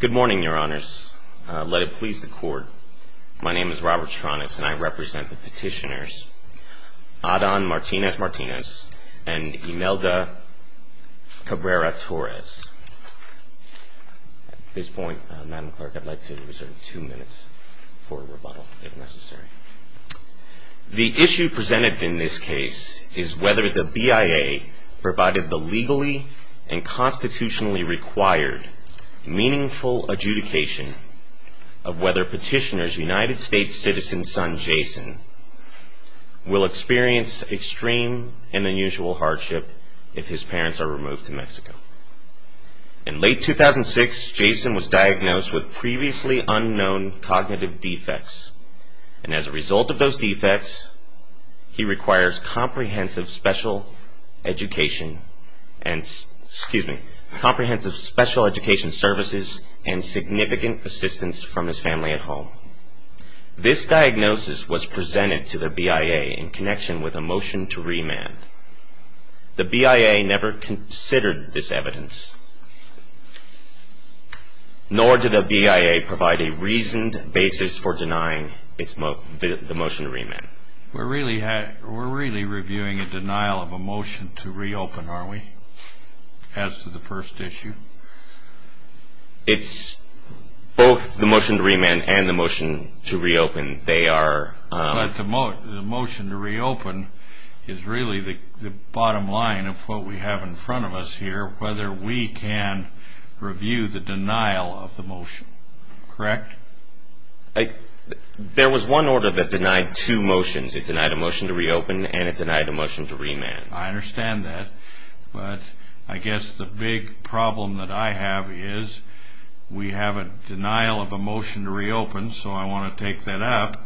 Good morning, your honors. Let it please the court. My name is Robert Tronis and I represent the petitioners Adan Martinez Martinez and Imelda Cabrera Torres At this point madam clerk, I'd like to reserve two minutes for rebuttal if necessary the issue presented in this case is whether the BIA provided the legally and constitutionally required Meaningful adjudication of whether petitioners United States citizen son Jason will experience extreme and unusual hardship if his parents are removed to Mexico in Late 2006 Jason was diagnosed with previously unknown cognitive defects and as a result of those defects he requires comprehensive special education and Excuse me comprehensive special education services and significant assistance from his family at home This diagnosis was presented to the BIA in connection with a motion to remand The BIA never considered this evidence Nor did the BIA provide a reasoned basis for denying its Motion to remand we're really had we're really reviewing a denial of a motion to reopen are we? as to the first issue It's Both the motion to remand and the motion to reopen they are But the motion to reopen is really the bottom line of what we have in front of us here whether we can Review the denial of the motion, correct? like There was one order that denied two motions. It denied a motion to reopen and it denied a motion to remand I understand that but I guess the big problem that I have is We have a denial of a motion to reopen so I want to take that up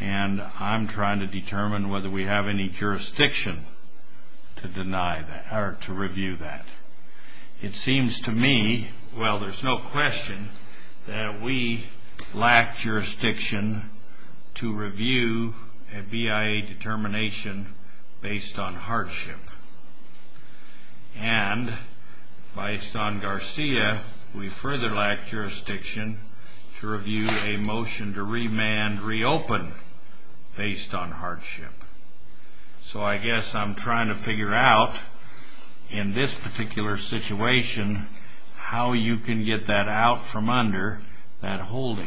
and I'm trying to determine whether we have any jurisdiction To deny that or to review that It seems to me. Well, there's no question that we lack jurisdiction to review a BIA Determination based on hardship and Based on Garcia. We further lack jurisdiction To review a motion to remand reopen based on hardship So I guess I'm trying to figure out in this particular situation How you can get that out from under that holding?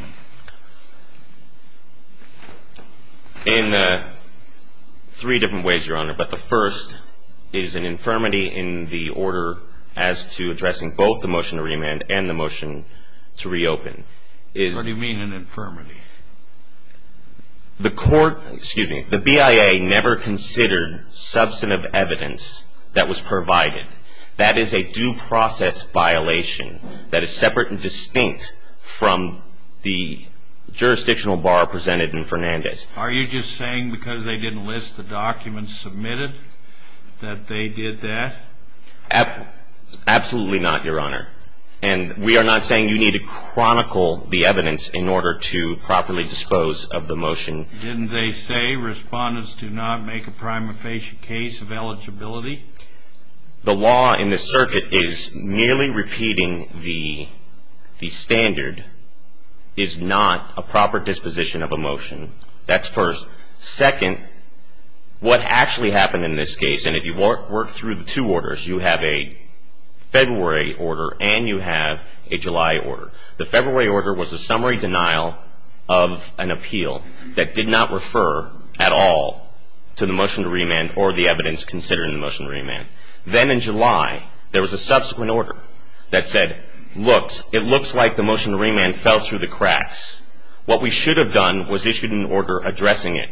In Three different ways your honor but the first is an infirmity in the order as to addressing both the motion to remand and the motion to Reopen is what do you mean an infirmity? The court excuse me, the BIA never considered substantive evidence that was provided That is a due process violation that is separate and distinct from the Jurisdictional bar presented in Fernandez. Are you just saying because they didn't list the documents submitted that they did that? Absolutely not your honor and we are not saying you need to chronicle the evidence in order to properly dispose of the motion Didn't they say respondents do not make a prima facie case of eligibility the law in the circuit is nearly repeating the Standard is Not a proper disposition of a motion. That's first second what actually happened in this case, and if you work work through the two orders you have a February order and you have a July order. The February order was a summary denial of An appeal that did not refer at all to the motion to remand or the evidence considering the motion remand Then in July there was a subsequent order that said looks it looks like the motion to remand fell through the cracks What we should have done was issued an order addressing it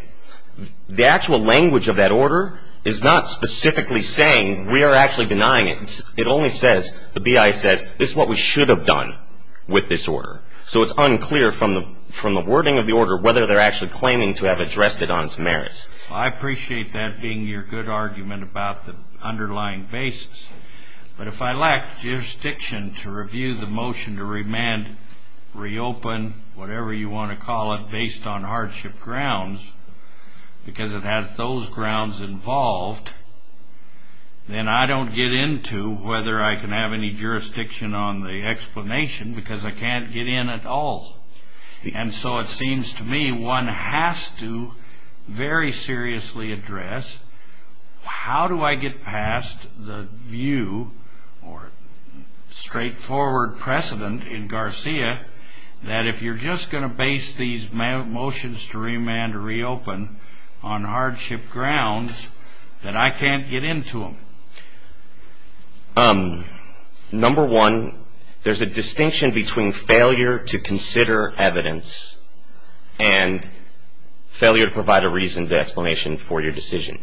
The actual language of that order is not specifically saying we are actually denying it It only says the BI says this is what we should have done with this order So it's unclear from the from the wording of the order whether they're actually claiming to have addressed it on its merits I appreciate that being your good argument about the underlying basis But if I lack jurisdiction to review the motion to remand Reopen whatever you want to call it based on hardship grounds Because it has those grounds involved Then I don't get into whether I can have any jurisdiction on the explanation because I can't get in at all And so it seems to me one has to very seriously address How do I get past the view or? Straightforward precedent in Garcia that if you're just gonna base these Motions to remand to reopen on hardship grounds that I can't get into them Number one there's a distinction between failure to consider evidence and Failure to provide a reason to explanation for your decision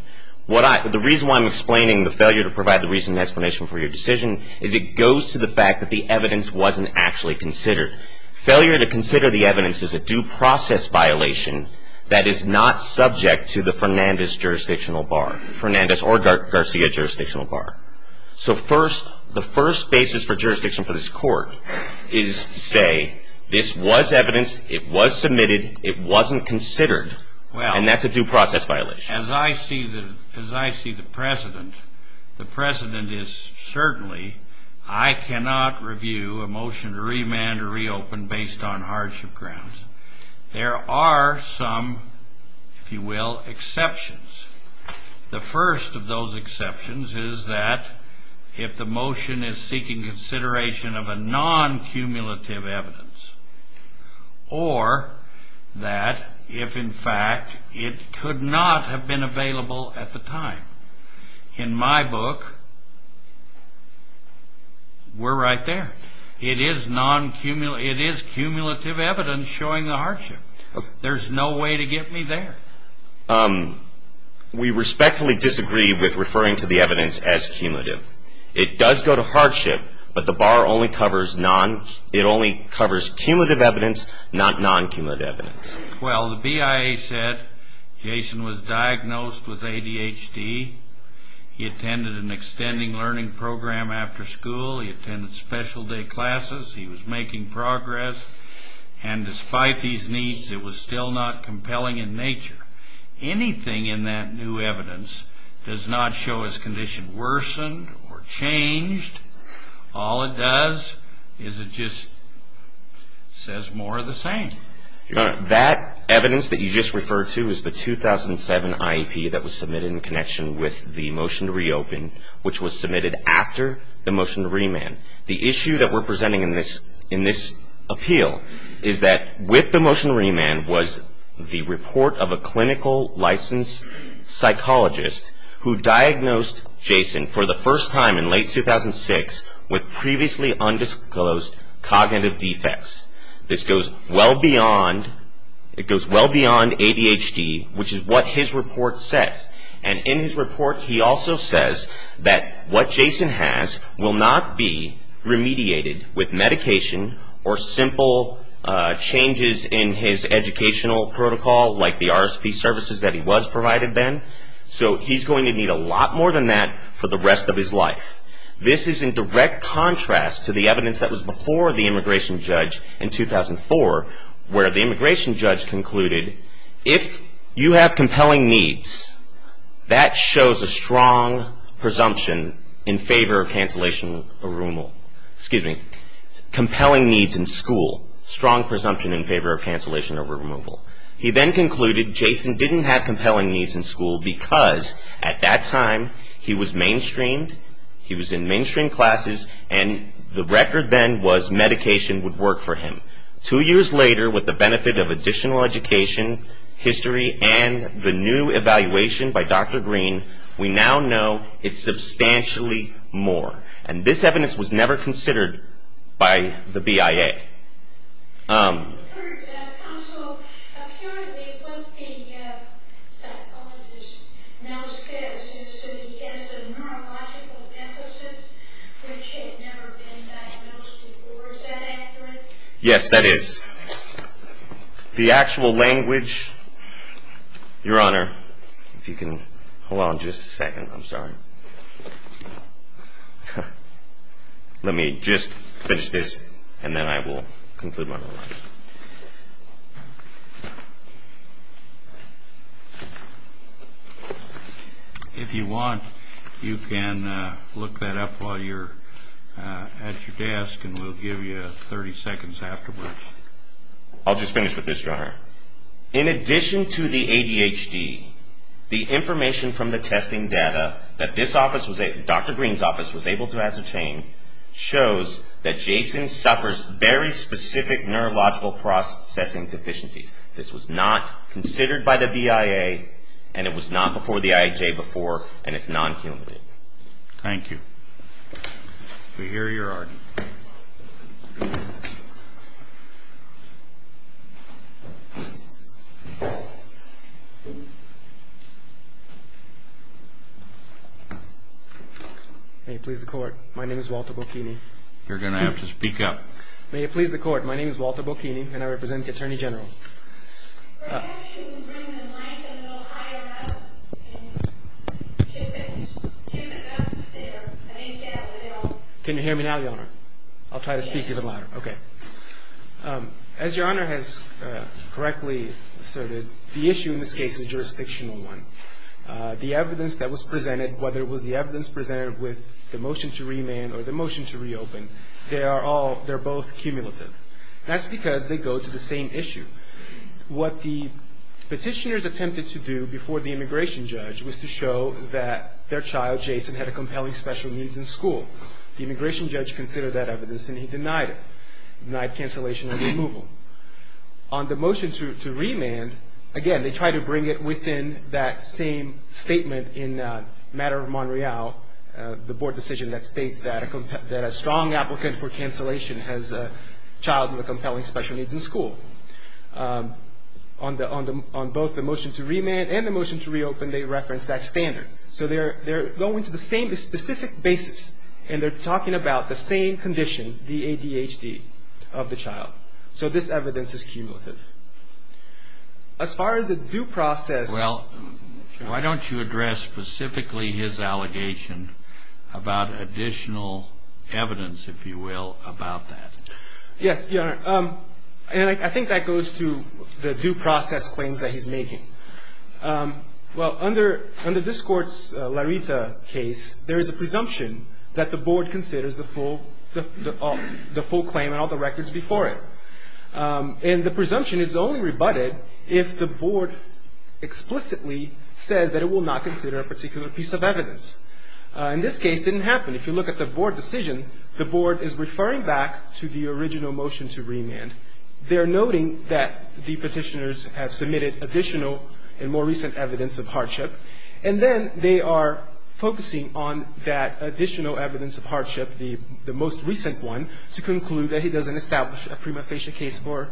What I the reason why I'm explaining the failure to provide the reason explanation for your decision is it goes to the fact that the? Evidence wasn't actually considered failure to consider the evidence is a due process Violation that is not subject to the Fernandez jurisdictional bar Fernandez or Garcia jurisdictional bar So first the first basis for jurisdiction for this court is to say this was evidence It was submitted it wasn't considered well And that's a due process violation as I see that as I see the precedent the precedent is certainly I Cannot review a motion to remand or reopen based on hardship grounds There are some if you will exceptions The first of those exceptions is that if the motion is seeking consideration of a non cumulative evidence or That if in fact it could not have been available at the time in my book We're right there it is non-cumulative it is cumulative evidence showing the hardship. There's no way to get me there We Respectfully disagree with referring to the evidence as cumulative it does go to hardship But the bar only covers non it only covers cumulative evidence not non cumulative evidence Well the BIA said Jason was diagnosed with ADHD He attended an extending learning program after school. He attended special day classes. He was making progress and Despite these needs it was still not compelling in nature Anything in that new evidence does not show his condition worsened or changed all it does is it just says more of the same that evidence that you just referred to is the 2007 IEP that was submitted in connection with the motion to reopen which was submitted after The motion to remand the issue that we're presenting in this in this Appeal is that with the motion remand was the report of a clinical licensed Psychologist who diagnosed Jason for the first time in late 2006 with previously undisclosed Cognitive defects this goes well beyond It goes well beyond ADHD Which is what his report says and in his report he also says that what Jason has will not be Remediated with medication or simple Changes in his educational protocol like the RSV services that he was provided then So he's going to need a lot more than that for the rest of his life This is in direct contrast to the evidence that was before the immigration judge in 2004 where the immigration judge concluded if you have compelling needs That shows a strong presumption in favor of cancellation or removal, excuse me Compelling needs in school strong presumption in favor of cancellation over removal He then concluded Jason didn't have compelling needs in school because at that time he was mainstreamed He was in mainstream classes and the record then was medication would work for him Two years later with the benefit of additional education History and the new evaluation by dr. Green we now know it's Substantially more and this evidence was never considered by the BIA Um Yes, that is the actual language Your honor if you can hold on just a second. I'm sorry Yeah, let me just finish this and then I will conclude my life If you want you can look that up while you're At your desk and we'll give you 30 seconds afterwards I'll just finish with this runner in addition to the ADHD The information from the testing data that this office was a dr. Green's office was able to ascertain Shows that Jason suffers very specific neurological processing deficiencies This was not considered by the BIA and it was not before the IJ before and it's non cumulative Thank you We hear your argument You May please the court. My name is Walter Bocchini. You're gonna have to speak up. May it please the court My name is Walter Bocchini and I represent the Attorney General Can you hear me now your honor I'll try to speak even louder, okay as your honor has Correctly asserted the issue in this case is jurisdictional one The evidence that was presented whether it was the evidence presented with the motion to remand or the motion to reopen They are all they're both cumulative. That's because they go to the same issue what the Petitioners attempted to do before the immigration judge was to show that their child Jason had a compelling special needs in school The immigration judge considered that evidence and he denied it night cancellation and removal On the motion to remand again, they try to bring it within that same statement in matter of Montreal The board decision that states that a compact that a strong applicant for cancellation has a child with compelling special needs in school On the on the on both the motion to remand and the motion to reopen they reference that standard So they're they're going to the same specific basis and they're talking about the same condition the ADHD of the child So this evidence is cumulative As far as the due process well Why don't you address specifically his allegation? about additional Evidence if you will about that. Yes, your honor Um, and I think that goes to the due process claims that he's making Well under under this courts Larita case There is a presumption that the board considers the full the the full claim and all the records before it And the presumption is only rebutted if the board Explicitly says that it will not consider a particular piece of evidence In this case didn't happen If you look at the board decision, the board is referring back to the original motion to remand They're noting that the petitioners have submitted additional and more recent evidence of hardship and then they are Focusing on that additional evidence of hardship the the most recent one to conclude that he doesn't establish a prima facie case for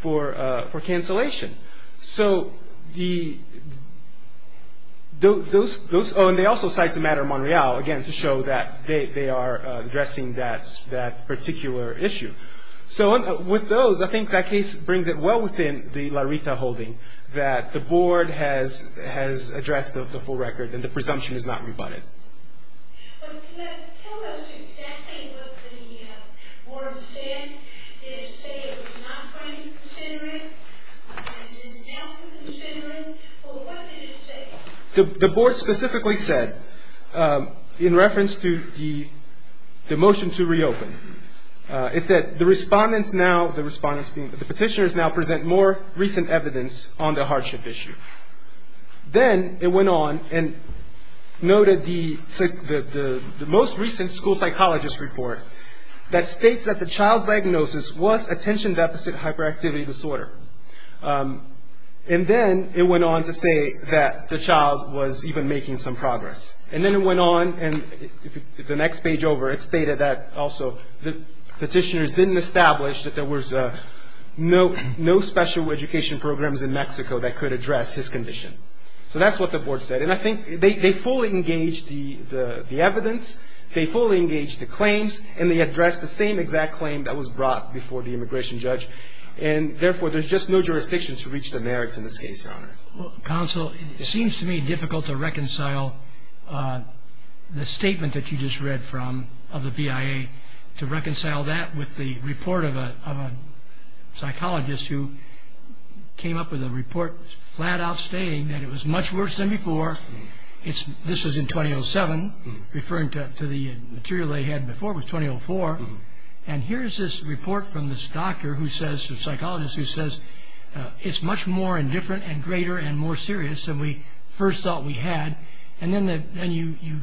for for cancellation, so the Those those oh and they also cite to matter Monreal again to show that they are addressing that that particular issue So with those I think that case brings it well within the Larita holding that the board has Addressed of the full record and the presumption is not rebutted The board specifically said in reference to the the motion to reopen It said the respondents now the respondents being the petitioners now present more recent evidence on the hardship issue then it went on and noted the The most recent school psychologist report that states that the child's diagnosis was attention deficit hyperactivity disorder and then it went on to say that the child was even making some progress and then it went on and the next page over it stated that also the petitioners didn't establish that there was a No, no special education programs in Mexico that could address his condition So that's what the board said and I think they fully engaged the the evidence they fully engaged the claims and they addressed the same exact claim that was brought before the immigration judge and Therefore, there's just no jurisdiction to reach the merits in this case. Your honor counsel. It seems to me difficult to reconcile the statement that you just read from of the BIA to reconcile that with the report of a psychologist who Came up with a report flat-out stating that it was much worse than before It's this was in 2007 Referring to the material they had before was 2004 and here's this report from this doctor who says the psychologist who says it's much more indifferent and greater and more serious than we first thought we had and then that then you you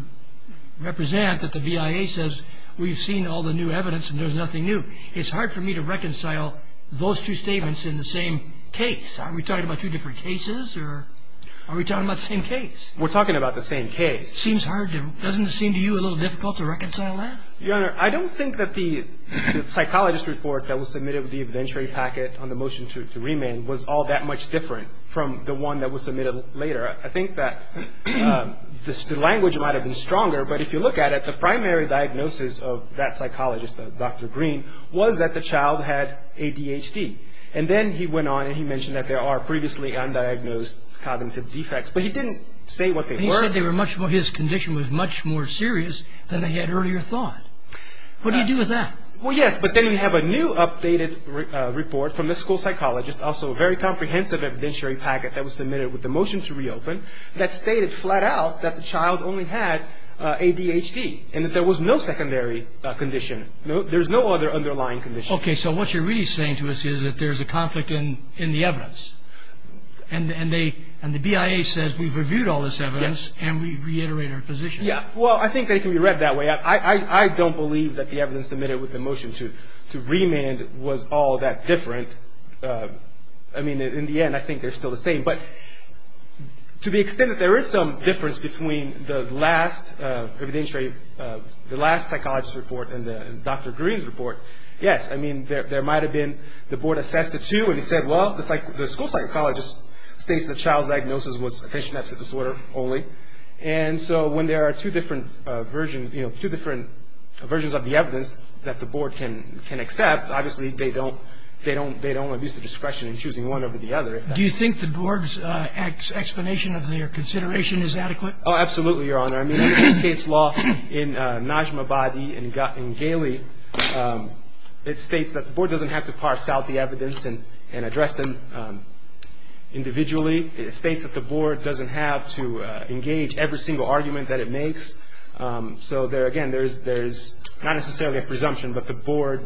Represent that the BIA says we've seen all the new evidence and there's nothing new It's hard for me to reconcile those two statements in the same case Are we talking about two different cases or are we talking about the same case? We're talking about the same case seems hard doesn't seem to you a little difficult to reconcile that your honor I don't think that the Psychologist report that was submitted with the evidentiary packet on the motion to remand was all that much different From the one that was submitted later. I think that This language might have been stronger But if you look at it the primary diagnosis of that psychologist of dr. Green was that the child had ADHD and then he went on and he mentioned that there are previously undiagnosed Cognitive defects, but he didn't say what they said. They were much more his condition was much more serious than they had earlier thought What do you do with that? Well, yes, but then you have a new updated Report from the school psychologist also a very comprehensive Evidentiary packet that was submitted with the motion to reopen that stated flat-out that the child only had ADHD and that there was no secondary condition. No, there's no other underlying condition okay, so what you're really saying to us is that there's a conflict in in the evidence and And they and the BIA says we've reviewed all this evidence and we reiterate our position. Yeah Well, I think they can be read that way I don't believe that the evidence submitted with the motion to to remand was all that different. I mean in the end, I think they're still the same but To the extent that there is some difference between the last Evidentiary the last psychologist report and the dr. Green's report Yes I mean there might have been the board assessed the two and he said well it's like the school psychologist states the child's diagnosis was a patient that's a disorder only and So when there are two different versions, you know Two different versions of the evidence that the board can can accept obviously They don't they don't they don't abuse the discretion in choosing one over the other Do you think the board's X explanation of their consideration is adequate? Oh, absolutely your honor I mean in this case law in Najma body and got in Gailey It states that the board doesn't have to parse out the evidence and and address them Individually it states that the board doesn't have to engage every single argument that it makes So there again, there's there's not necessarily a presumption, but the board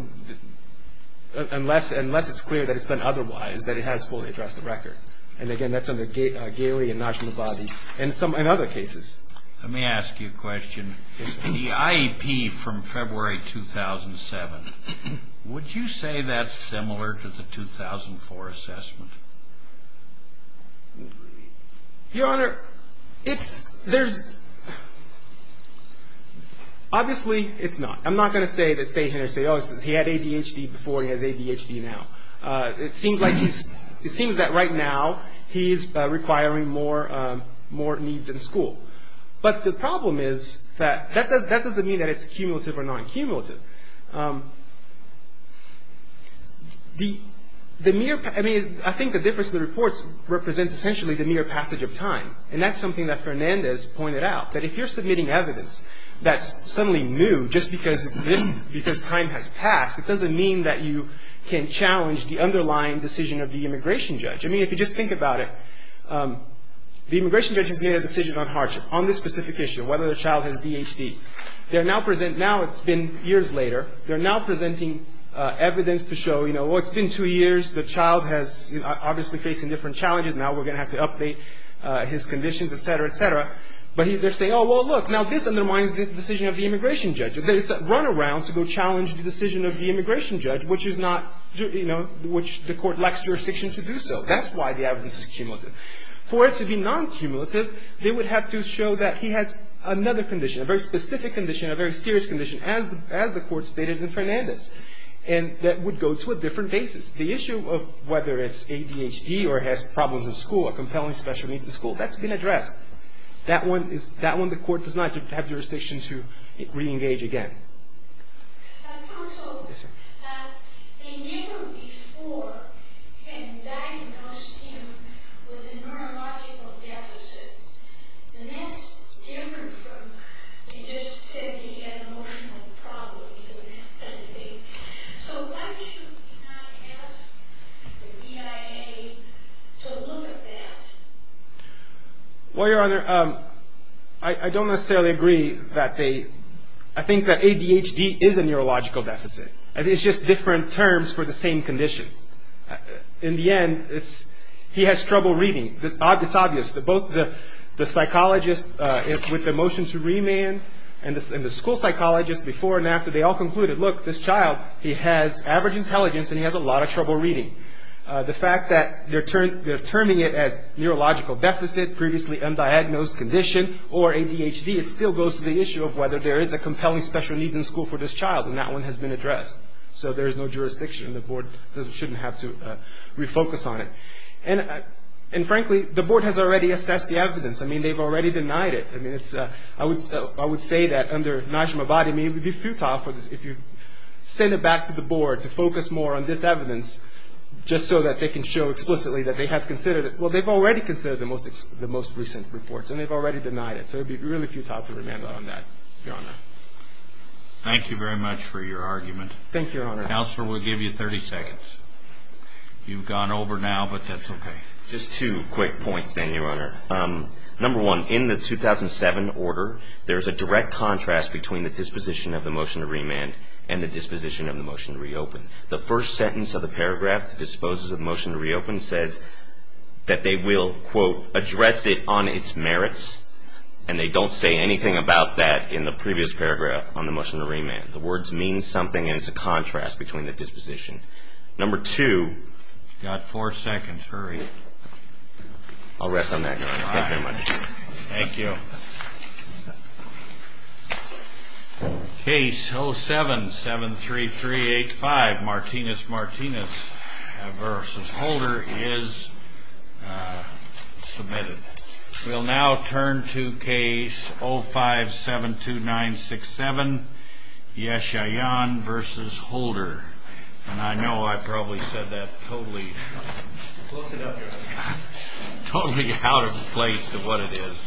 Unless unless it's clear that it's been otherwise that it has fully addressed the record and again That's on the gate Gailey and Najma body and some in other cases. Let me ask you a question the IEP from February 2007 would you say that's similar to the 2004 assessment? Your honor it's there's Obviously it's not I'm not gonna say that stay here say oh he had ADHD before he has ADHD now It seems like he's it seems that right now. He's requiring more More needs in school, but the problem is that that does that doesn't mean that it's cumulative or non-cumulative The the mere I mean I think the difference in the reports represents essentially the mere passage of time and that's something that That's suddenly new just because Because time has passed it doesn't mean that you can challenge the underlying decision of the immigration judge I mean if you just think about it The immigration judges made a decision on hardship on this specific issue whether the child has DHT. They're now present now It's been years later. They're now presenting Evidence to show you know what's been two years the child has obviously facing different challenges now We're gonna have to update his conditions, etc, etc But he they're saying oh well look now this undermines the decision of the immigration judge It's a runaround to go challenge the decision of the immigration judge, which is not you know Which the court lacks jurisdiction to do so that's why the evidence is cumulative for it to be non-cumulative They would have to show that he has another condition a very specific condition a very serious condition as as the court stated in Fernandez and that would go to a different basis the issue of whether it's ADHD or has problems in school a compelling special needs to school that's been addressed That one is that one the court does not have jurisdiction to re-engage again Well your honor I Don't necessarily agree that they I think that ADHD is a neurological deficit I think it's just different terms for the same condition In the end it's he has trouble reading that odd It's obvious that both the the psychologist is with the motion to remand and this in the school Psychologist before and after they all concluded look this child he has average intelligence, and he has a lot of trouble reading The fact that they're turned they're turning it as neurological deficit previously undiagnosed condition or ADHD It still goes to the issue of whether there is a compelling special needs in school for this child and that one has been addressed So there's no jurisdiction the board doesn't shouldn't have to Refocus on it and and frankly the board has already assessed the evidence. I mean, they've already denied it I mean, it's I would I would say that under nice my body It would be futile for this if you send it back to the board to focus more on this evidence Just so that they can show explicitly that they have considered it Well, they've already considered the most the most recent reports, and they've already denied it So it'd be really futile to remand on that your honor Thank you very much for your argument. Thank you your honor now, sir. We'll give you 30 seconds You've gone over now, but that's okay. Just two quick points then your honor Number one in the 2007 order there's a direct contrast between the disposition of the motion to remand and the disposition of the motion to reopen the first sentence of the paragraph disposes of motion to reopen says That they will quote address it on its merits And they don't say anything about that in the previous paragraph on the motion to remand the words means something and it's a contrast between the disposition number two Got four seconds. Hurry I'll rest on that Thank you Case 0 7 7 3 3 8 5 Martinez Martinez versus Holder is Submitted we'll now turn to case 0 5 7 2 9 6 7 Yes, I on versus Holder, and I know I probably said that totally Totally out of place to what it is